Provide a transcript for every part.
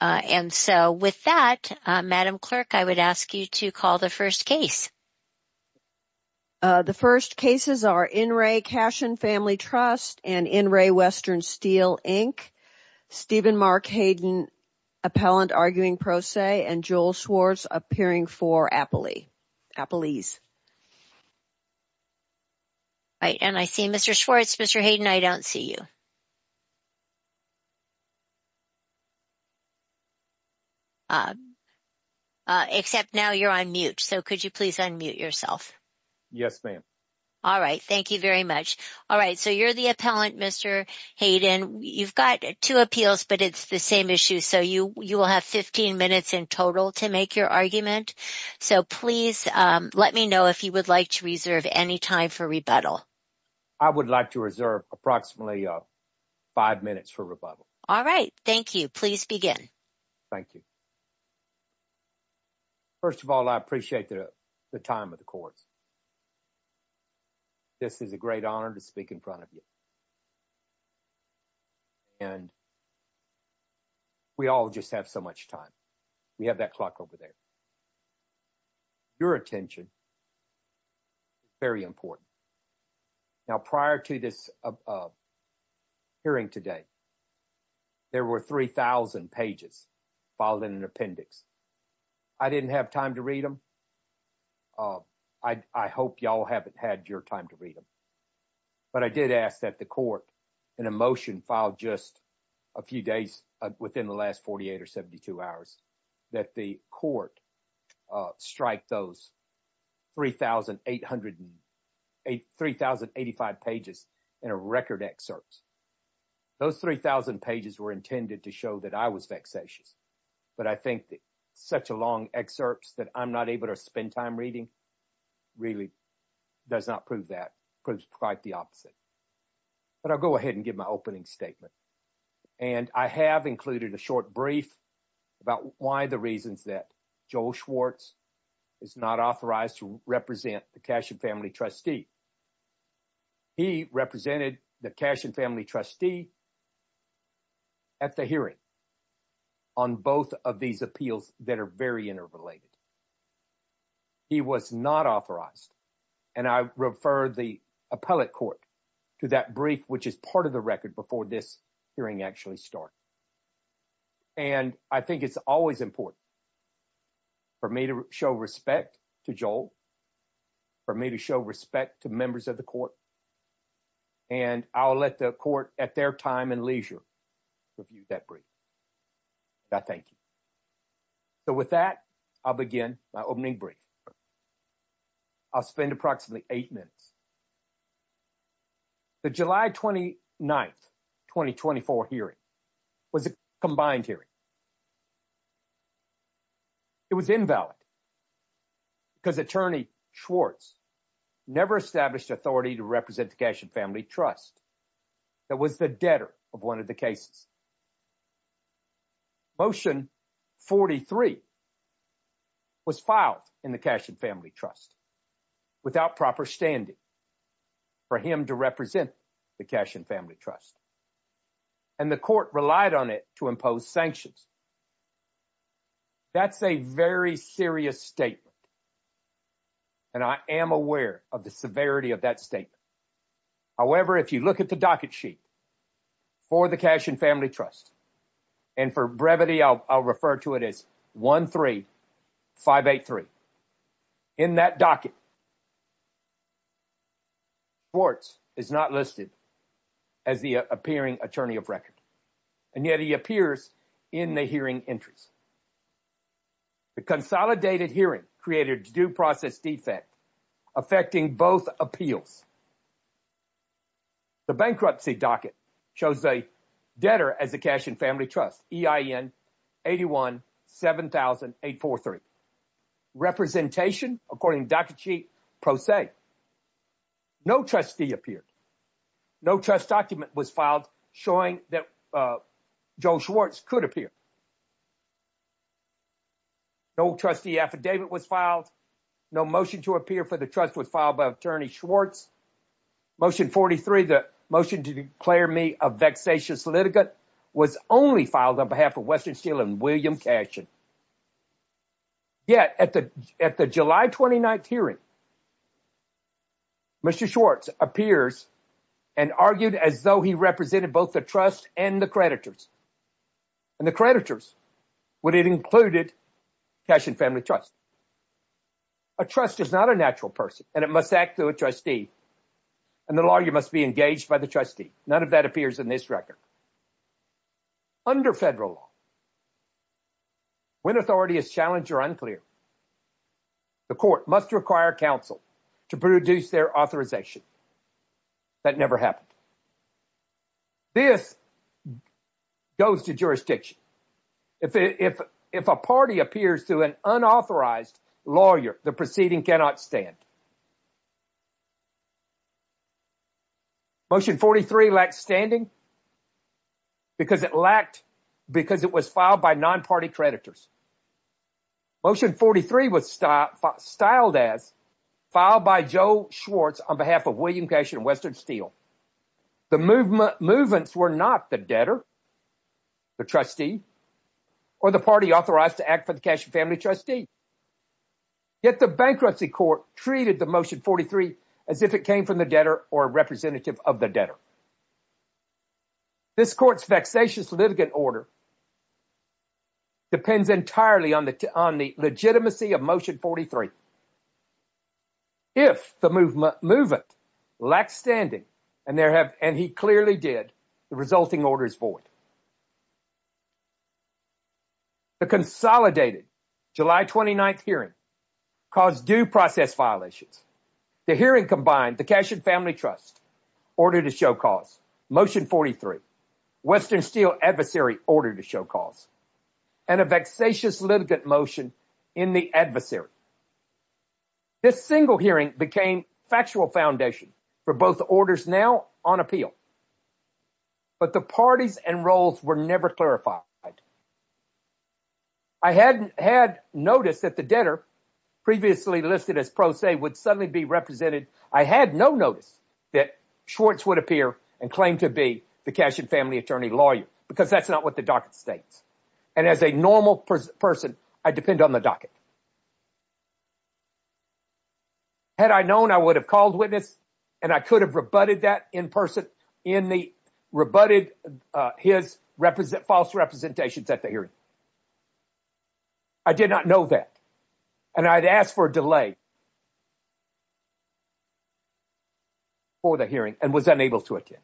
And so with that, Madam Clerk, I would ask you to call the first case. The first cases are in re Cashion Family Trust and in re Western Steel Inc., Stephen Mark Hayden, Appellant Arguing Pro Se, and Joel Schwartz appearing for Appalese. Right, and I see Mr. Schwartz. Mr. Hayden, I don't see you. Uh, uh, except now you're on mute. So could you please unmute yourself? Yes, ma'am. All right. Thank you very much. All right. So you're the appellant, Mr. Hayden. You've got two appeals, but it's the same issue. So you you will have 15 minutes in total to make your argument. So please let me know if you would like to reserve any time for rebuttal. I would like to reserve approximately five minutes for rebuttal. All right. Thank you. Please begin. Thank you. First of all, I appreciate the time of the course. This is a great honor to speak in front of you. And we all just have so much time. We have that clock over there. Your attention is very important. Now, prior to this hearing today, there were 3,000 pages filed in an appendix. I didn't have time to read them. I hope y'all haven't had your time to read them. But I did ask that the court in a motion filed just a few days within the last 48 or 72 hours, that the court strike those 3,885 pages in a record excerpts. Those 3,000 pages were intended to show that I was vexatious. But I think that such a long excerpts that I'm not able to spend time reading really does not prove that, proves quite the opposite. But I'll go ahead and give my opening statement. And I have included a short brief about why the reasons that Joel Schwartz is not authorized to represent the Cashin family trustee. He represented the Cashin family trustee at the hearing on both of these appeals that are very interrelated. He was not authorized. And I refer the appellate court to that brief, which is part of the record before this hearing actually starts. And I think it's always important for me to show respect to Joel, for me to show respect to members of the court. And I'll let the court at their time and leisure review that brief. I thank you. So with that, I'll begin my opening brief. I'll spend approximately eight minutes. The July 29th, 2024 hearing was a combined hearing. It was invalid because attorney Schwartz never established authority to represent the Cashin trust. That was the debtor of one of the cases. Motion 43 was filed in the Cashin family trust without proper standing for him to represent the Cashin family trust. And the court relied on it to impose sanctions. That's a very serious statement. And I am aware of the severity of that statement. However, if you look at the docket sheet for the Cashin family trust, and for brevity, I'll refer to it as 13583. In that docket, Schwartz is not listed as the appearing attorney of record. And yet he appears in the hearing entries. The consolidated hearing created due process defect affecting both appeals. The bankruptcy docket shows a debtor as a Cashin family trust, EIN 817,843. Representation, according to docket sheet, pro se. No trustee appeared. No trust document was showing that Joe Schwartz could appear. No trustee affidavit was filed. No motion to appear for the trust was filed by attorney Schwartz. Motion 43, the motion to declare me a vexatious litigant was only filed on behalf of Western Steel and William Cashin. Yet at the July 29th hearing, Mr. Schwartz appears and argued as though he represented both the trust and the creditors. And the creditors would have included Cashin family trust. A trust is not a natural person, and it must act through a trustee. And the lawyer must be engaged by the trustee. None of that appears in this record. Under federal law, when authority is challenged or unclear, the court must require counsel to produce their authorization. That never happened. This goes to jurisdiction. If a party appears to an unauthorized lawyer, the proceeding cannot stand. Motion 43 lacked standing because it was filed by non-party creditors. Motion 43 was styled as filed by Joe Schwartz on behalf of William Cashin and Western Steel. The movements were not the debtor, the trustee, or the party authorized to act for the Cashin trustee. Yet the bankruptcy court treated the Motion 43 as if it came from the debtor or a representative of the debtor. This court's vexatious litigant order depends entirely on the legitimacy of Motion 43. If the movement lacked standing, and he clearly did, the resulting order is void. The consolidated July 29th hearing caused due process violations. The hearing combined the Cashin Family Trust order to show cause, Motion 43, Western Steel adversary order to show cause, and a vexatious litigant motion in the adversary. This single hearing became factual foundation for both orders now on appeal. But the parties and roles were never clarified. I had noticed that the debtor, previously listed as pro se, would suddenly be represented. I had no notice that Schwartz would appear and claim to be the Cashin family attorney lawyer, because that's not what the docket states. And as a normal person, I depend on the docket. Had I known, I would have called witness, and I could have rebutted that in person, in the rebutted, uh, his represent false representations at the hearing. I did not know that, and I'd asked for a delay for the hearing and was unable to attend.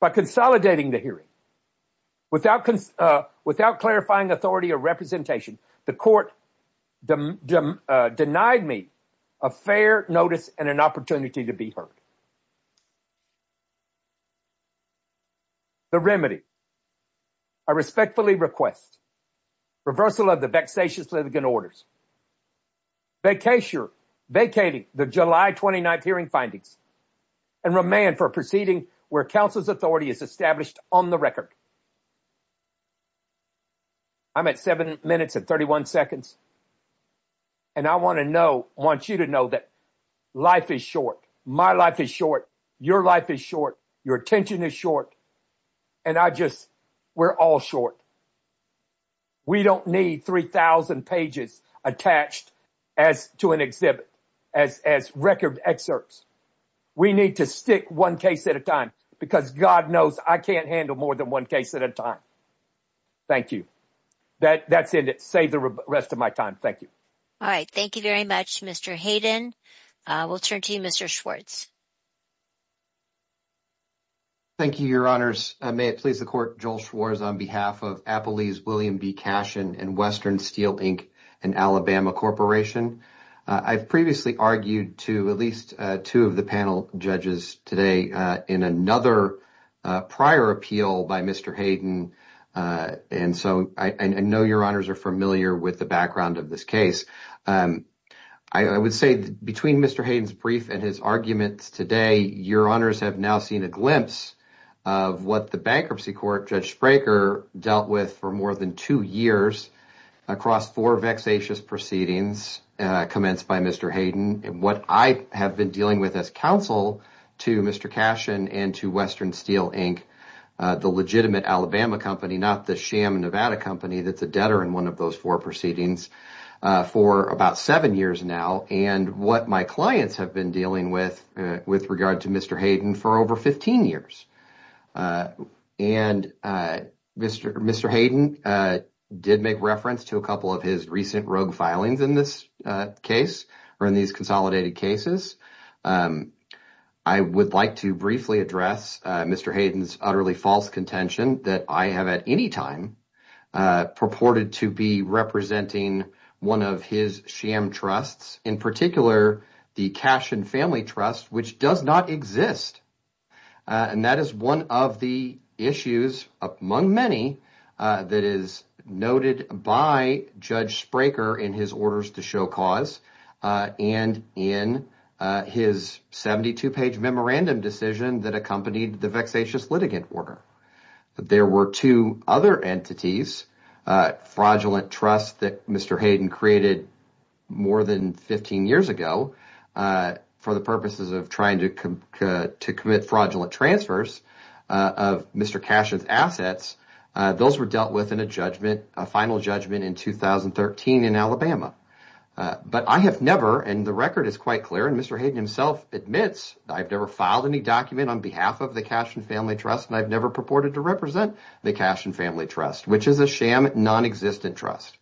By consolidating the hearing, without, uh, without clarifying authority or representation, the court denied me a fair notice and an opportunity to be heard. The remedy, I respectfully request reversal of the vexatious litigant orders, vacating the July 29th hearing findings, and remand for a proceeding where counsel's authority is established on the record. I'm at seven minutes and 31 seconds, and I want to know, want you to know that life is short. My life is short, your life is short, your attention is short, and I just, we're all short. We don't need 3,000 pages attached as to an exhibit, as, as record excerpts. We need to stick one case at a time, because God knows I can't handle more than one case at a time. Thank you. That, that's it. It saved the rest of my time. Thank you. All right. Thank you very much, Mr. Hayden. Uh, we'll turn to you, Mr. Schwartz. Thank you, your honors. May it please the court, Joel Schwartz on behalf of Appalese William B. Cashin and Western Steel Inc. and Alabama Corporation. I've previously argued to at least two of the panel judges today in another prior appeal by Mr. Hayden, and so I know your honors are familiar with the background of this case. I would say between Mr. Hayden's brief and his arguments today, your honors have now seen a glimpse of what the bankruptcy court, Judge Spraker, dealt with for more than two years across four vexatious proceedings, uh, commenced by Mr. Hayden and what I have been dealing with as counsel to Mr. Cashin and to Western Steel Inc., uh, the legitimate Alabama company, not the sham Nevada company that's a debtor in one of those four proceedings, uh, for about seven years now and what my clients have been dealing with, uh, with regard to Mr. Hayden for over 15 years. Uh, and, uh, Mr. Mr. Hayden, uh, did make reference to a couple of his recent rogue filings in this case or in these consolidated cases. Um, I would like to briefly address, uh, Mr. Hayden's utterly false contention that I have at any time, uh, purported to be representing one of his sham trusts, in particular, the Cashin Family Trust, which does not exist. Uh, and that is one of the issues among many, uh, that is noted by Judge Spraker in his orders to show cause, uh, and in, uh, his 72 page memorandum decision that accompanied the vexatious litigant order. There were two other entities, uh, fraudulent trust that Mr. Hayden created more than 15 years ago, uh, for the purposes of trying to commit fraudulent transfers, uh, of Mr. Cashin's assets. Uh, those were dealt with in a judgment, a final judgment in 2013 in Alabama. Uh, but I have never, and the record is quite clear, and Mr. Hayden himself admits, I've never filed any document on behalf of the Cashin Family Trust, and I've never purported to represent the Cashin Family Trust, which is a sham non-existent trust.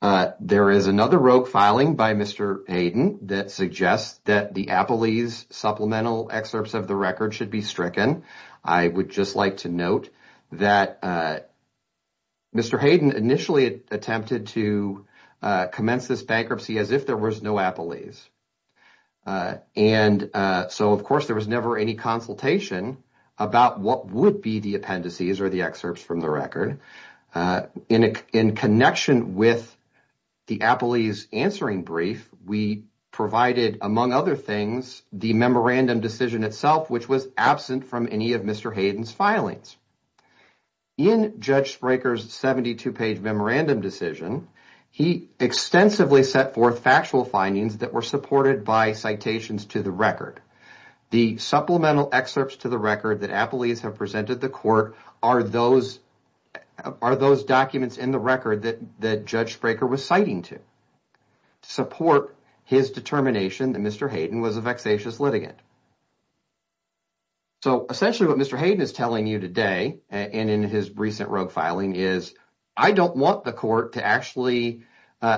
Uh, there is another rogue filing by Mr. Hayden that suggests that the Apolese supplemental excerpts of the record should be stricken. I would just like to note that, uh, Mr. Hayden initially attempted to, uh, commence this bankruptcy as if there was no Apolese. Uh, and, uh, so of course there was never any consultation about what would be the appendices or the excerpts from the record. Uh, in a, in connection with the Apolese answering brief, we provided, among other things, the memorandum decision itself, which was absent from any of Mr. Hayden's filings. In Judge Spraker's 72 page memorandum decision, he extensively set forth factual findings that were supported by citations to the record. The supplemental excerpts to the record that Apolese have presented the court are those, are those documents in the record that, that Judge Spraker was citing to support his determination that Mr. Hayden was a vexatious litigant. So, essentially what Mr. Hayden is telling you today, and in his recent rogue filing, is I don't want the court to actually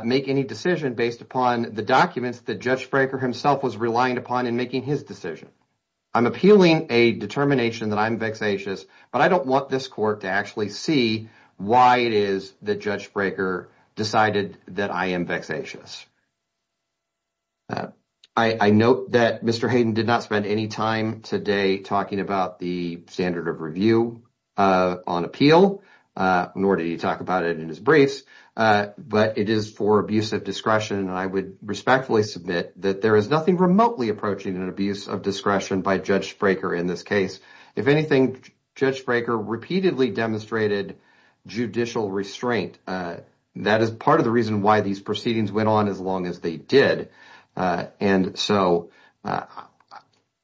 make any decision based upon the documents that Judge Spraker himself was relying upon in making his decision. I'm appealing a determination that I'm vexatious, but I don't want this court to actually see why it is that Judge Spraker decided that I am vexatious. Uh, I, I note that Mr. Hayden did not spend any time today talking about the standard of review, uh, on appeal, uh, nor did he talk about it in his briefs, uh, but it is for abuse of discretion. And I would respectfully submit that there is nothing remotely approaching an abuse of discretion by Judge Spraker in this case. If anything, Judge Spraker repeatedly demonstrated judicial restraint. Uh, that is part of the reason why these proceedings went on as long as they did. And so, uh,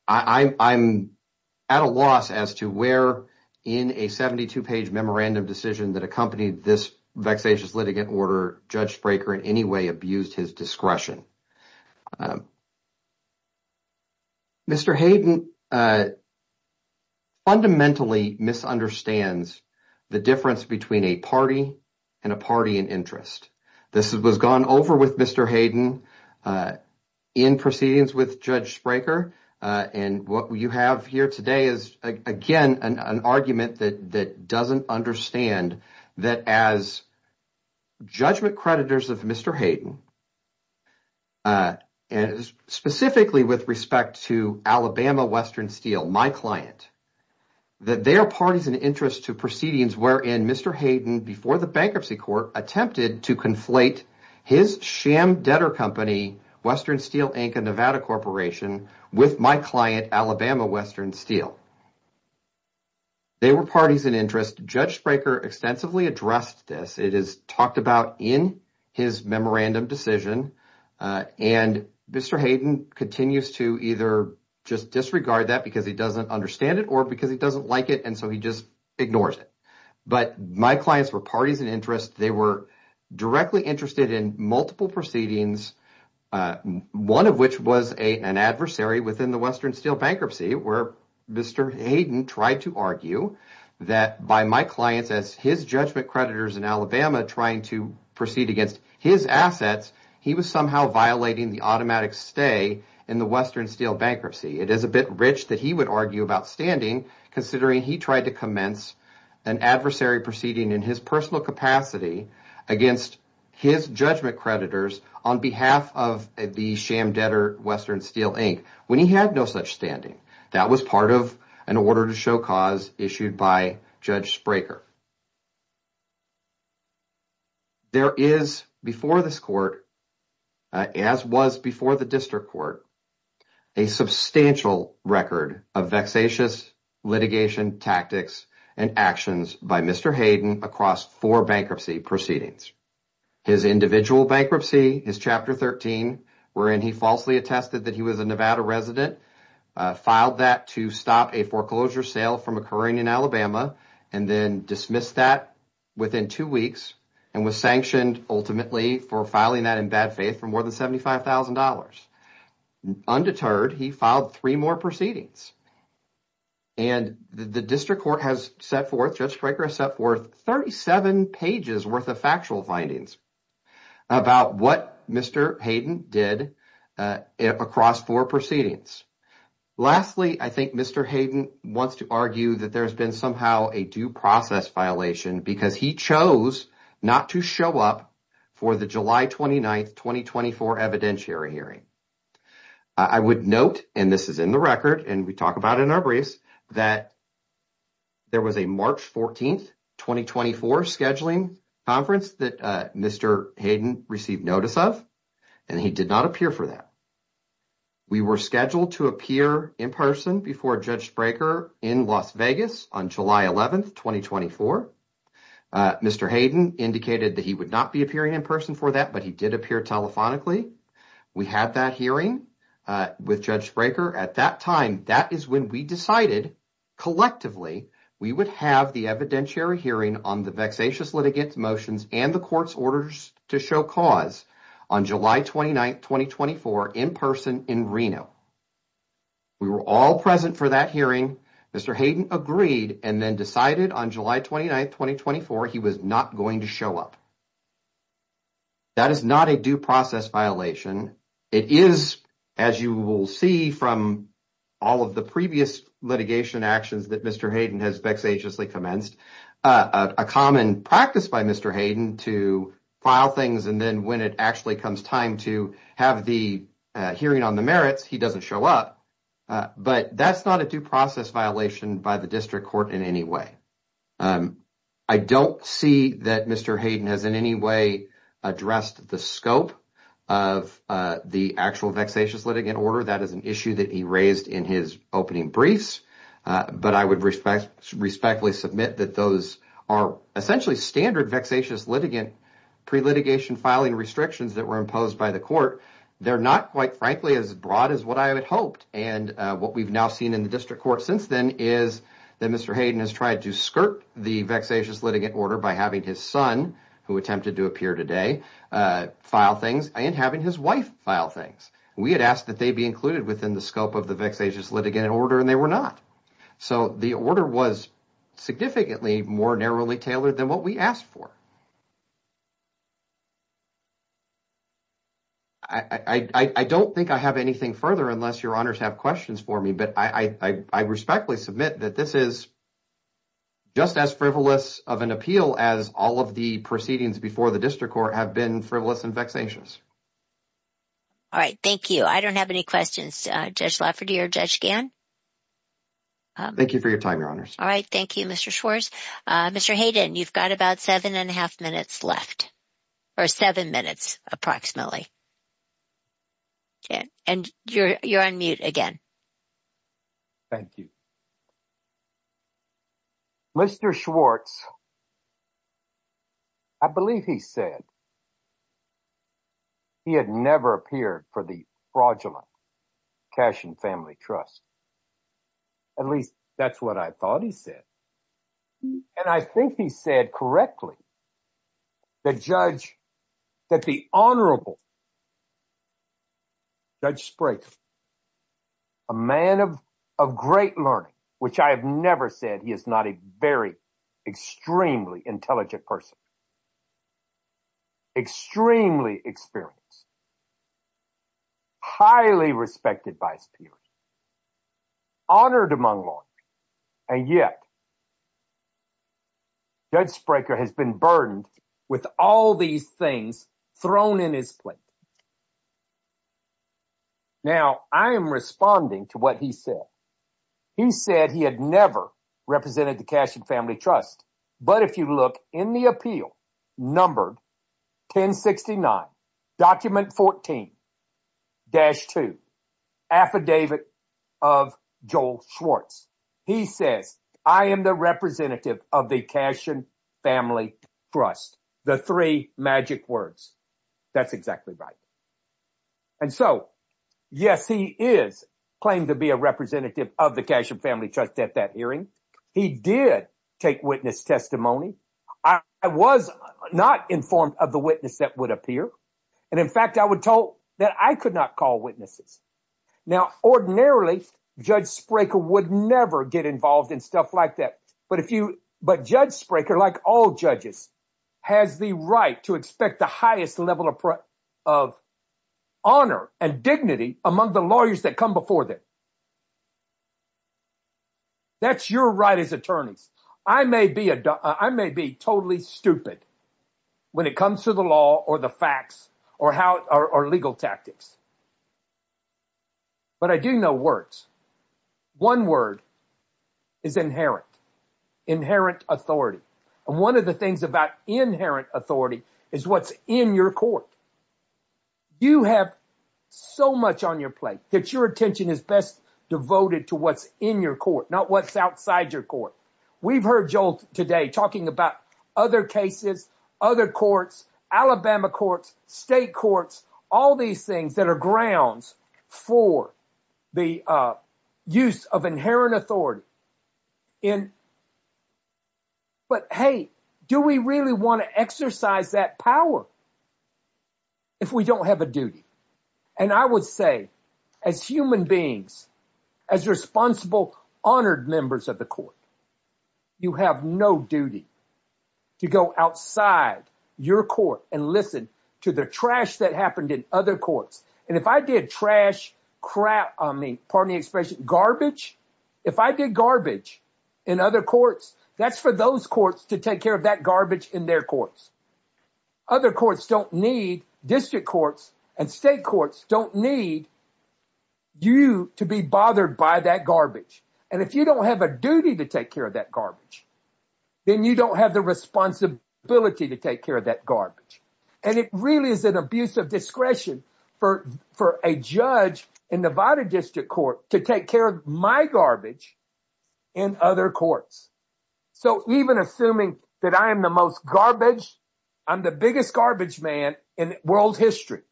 I, I'm at a loss as to where in a 72-page memorandum decision that accompanied this vexatious litigant order, Judge Spraker in any way abused his discretion. Mr. Hayden, uh, fundamentally misunderstands the difference between a party and a party in interest. This was gone over with Mr. Hayden, uh, in proceedings with Judge Spraker, uh, and what you have here today is, again, an argument that, that doesn't understand that as judgment creditors of Mr. Hayden, uh, and specifically with respect to Alabama Western Steel, my client, that they are parties in interest to proceedings wherein Mr. Hayden, before the bankruptcy court, attempted to conflate his sham debtor company, Western Steel, Inc., a Nevada corporation, with my client, Alabama Western Steel. They were parties in interest. Judge Spraker extensively addressed this. It is talked about in his memorandum decision, uh, and Mr. Hayden continues to either just disregard that because he doesn't understand it or because he doesn't like it, and so he just ignores it. But my clients were parties in interest. They were directly interested in multiple proceedings, uh, one of which was a, an adversary within the Western Steel bankruptcy where Mr. Hayden tried to argue that by my clients as his judgment creditors in Alabama trying to proceed against his assets, he was somehow violating the automatic stay in the Western Steel bankruptcy. It is a bit rich that he would argue about standing considering he tried to commence an adversary proceeding in his personal capacity against his judgment creditors on behalf of the sham debtor, Western Steel, Inc., when he had no such standing. That was part of an order to show cause issued by Judge Spraker. There is before this court, uh, as was before the district court, a substantial record of vexatious litigation tactics and actions by Mr. Hayden across four bankruptcy proceedings. His individual bankruptcy, his chapter 13, wherein he falsely attested that he was a Nevada resident, uh, filed that to stop a foreclosure sale from occurring in Alabama and then dismissed that within two weeks and was sanctioned ultimately for filing that in bad faith for more than $75,000. Undeterred, he filed three more proceedings, and the district court has set forth, Judge Spraker has set forth 37 pages worth of factual findings about what Mr. Hayden did, uh, across four proceedings. Lastly, I think Mr. Hayden wants to argue that there's been somehow a due process violation because he chose not to show up for the July 29th, 2024 evidentiary hearing. I would note, and this is in the record and we talk about in our briefs, that there was a March 14th, 2024 scheduling conference that, uh, Mr. Hayden received notice of and he did not appear for that. We were scheduled to appear in person before Judge Spraker in Las Vegas on July 11th, 2024. Uh, Mr. Hayden indicated that he would not be appearing in person for that, but he did appear telephonically. We had that hearing, uh, with Judge Spraker at that time. That is when we decided collectively we would have the evidentiary hearing on the vexatious litigants motions and the court's orders to show cause on July 29th, 2024 in person in Reno. We were all present for that hearing. Mr. Hayden agreed and then decided on July 29th, 2024 he was not going to show up. That is not a due process violation. It is, as you will see from all of the previous litigation actions that Mr. Hayden has vexatiously commenced, a common practice by Mr. Hayden to file things and then when it actually comes time to have the hearing on the merits, he doesn't show up. But that's not a due process violation by the district court in any way. I don't see that Mr. Hayden has in any way addressed the scope of the actual vexatious litigant order. That is an issue that he raised in his opening briefs, but I would respect respectfully submit that those are essentially standard vexatious litigant pre-litigation filing restrictions that were imposed by the court. They're not quite frankly as broad as what I had hoped and what we've now seen in the district court since then is that Mr. Hayden has tried to skirt the vexatious litigant order by having his son, who attempted to appear today, file things and having his wife file things. We had asked that they be included within the scope of the vexatious litigant order and they were not. So the order was significantly more narrowly tailored than what we asked for. I don't think I have anything further unless your honors have questions for me, but I respectfully submit that this is just as frivolous of an appeal as all of the proceedings before the district court have been frivolous and vexatious. All right, thank you. I don't have any questions, Judge Lafferty or Judge Gann. Thank you for your time, your honors. All right, thank you, Mr. Schwartz. Mr. Hayden, you've got about seven and a half minutes left or seven minutes approximately. And you're on mute again. Thank you. Mr. Schwartz, I believe he said he had never appeared for the fraudulent Cash and Family Trust. At least that's what I thought he said. And I think he said correctly that the honorable Judge Sprayton, a man of great learning, which I have never said he is not a very extremely intelligent person, extremely experienced, highly respected by his peers, honored among lawyers, and yet Judge Sprayton has been burdened with all these things thrown in his plate. Now, I am responding to what he said. He said he had never represented the Cash and Family Trust, but if you look in the appeal numbered 1069, document 14-2, affidavit of Joel Schwartz, he says, I am the representative of the Cash and Family Trust. The three magic words. That's exactly right. And so, yes, he is claimed to be a representative of the Cash and Family Trust at that hearing. He did take witness testimony. I was not informed of the witness that would appear. And in fact, I was told that I could not call witnesses. Now, ordinarily, Judge Sprayton would never get involved in stuff like that. But Judge Sprayton, like all judges, has the right to expect the highest level of honor and dignity among the lawyers that come before them. That's your right as attorneys. I may be totally stupid when it comes to the law or the facts or legal tactics, but I do know words. One word is inherent. Inherent authority. And one of the things about inherent authority is what's in your court. You have so much on that your attention is best devoted to what's in your court, not what's outside your court. We've heard Joel today talking about other cases, other courts, Alabama courts, state courts, all these things that are grounds for the use of inherent authority. And but, hey, do we really want to exercise that power if we don't have a duty? And I would say, as human beings, as responsible, honored members of the court, you have no duty to go outside your court and listen to the trash that happened in other courts. And if I did trash crap, I mean, pardon the expression, garbage, if I did garbage in other courts, that's for those courts to take care of that garbage in their courts. Other courts don't need, district courts and state courts don't need you to be bothered by that garbage. And if you don't have a duty to take care of that garbage, then you don't have the responsibility to take that garbage. And it really is an abuse of discretion for a judge in Nevada District Court to take care of my garbage in other courts. So even assuming that I am the most garbage, I'm the biggest garbage man in world history,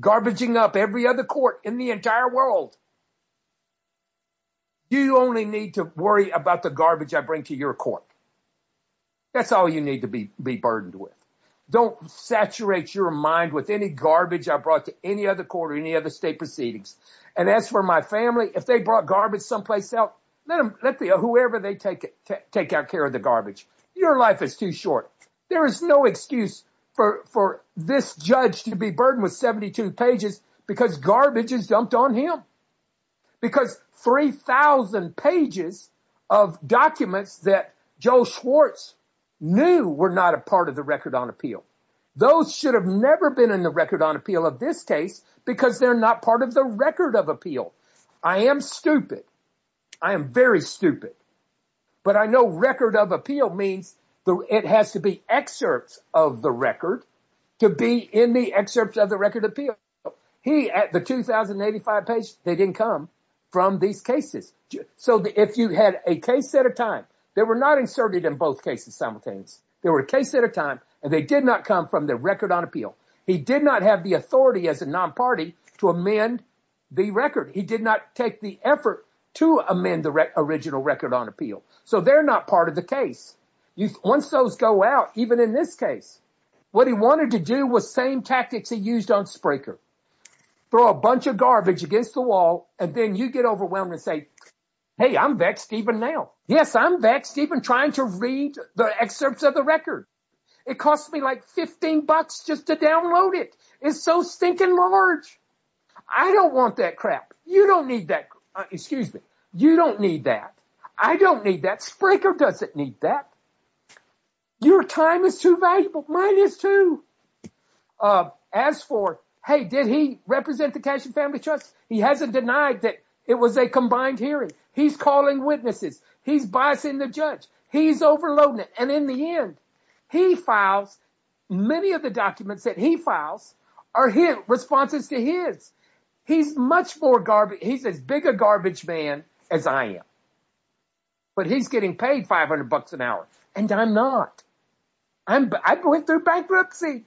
garbaging up every other court in the entire world. You only need to worry about the garbage I bring to your court. That's all you need to be burdened with. Don't saturate your mind with any garbage I brought to any other court or any other state proceedings. And as for my family, if they brought garbage someplace else, let them, whoever they take out care of the garbage. Your life is too short. There is no excuse for this judge to be burdened with 72 pages because garbage is dumped on him. Because 3,000 pages of documents that Joe Schwartz knew were not a part of the Record on Appeal. Those should have never been in the Record on Appeal of this case because they're not part of the Record of Appeal. I am stupid. I am very stupid. But I know Record of Appeal means it has to be excerpts of the record to be in the excerpts of the Record of Appeal. The 2,085 pages, they didn't come from these cases. So if you had a case at a time, they were not inserted in both cases simultaneously. They were a case at a time, and they did not come from the Record on Appeal. He did not have the authority as a non-party to amend the record. He did not take the effort to amend the original Record on Appeal. So they're not part of the case. Once those go out, even in this case, what he wanted to do was same tactics he used on Spraker. Throw a bunch of garbage against the wall, and then you get overwhelmed and say, hey, I'm Vexed even now. Yes, I'm Vexed even trying to read the excerpts of the record. It cost me like 15 bucks just to download it. It's so stinking large. I don't want that crap. You don't need that. Excuse me. You don't need that. I don't need that. Spraker doesn't need that. Your time is too valuable. Mine is too. As for, hey, did he represent the Cash and Family Trust? He hasn't denied that it was a combined hearing. He's calling witnesses. He's biasing the judge. He's overloading it. And in the end, he files, many of the documents that he files are his responses to his. He's much more garbage. He's as big a garbage man as I am. But he's getting paid 500 bucks an hour, and I'm not. I went through bankruptcy.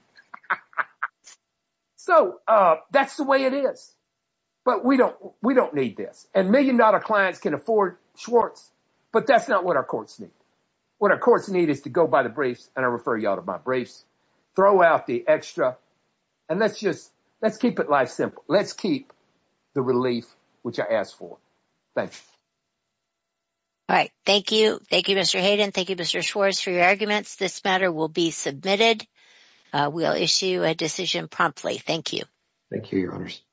So that's the way it is. But we don't need this. And million dollar clients can afford Schwartz, but that's not what our courts need. What our courts need is to go by the briefs, and I refer you all to my briefs. Throw out the extra, and let's just, let's keep it life simple. Let's keep the relief, which I asked for. Thank you. All right. Thank you. Thank you, Mr. Hayden. Thank you, Mr. Schwartz, for your arguments. This matter will be submitted. We'll issue a decision promptly. Thank you. Thank you, Your Honors.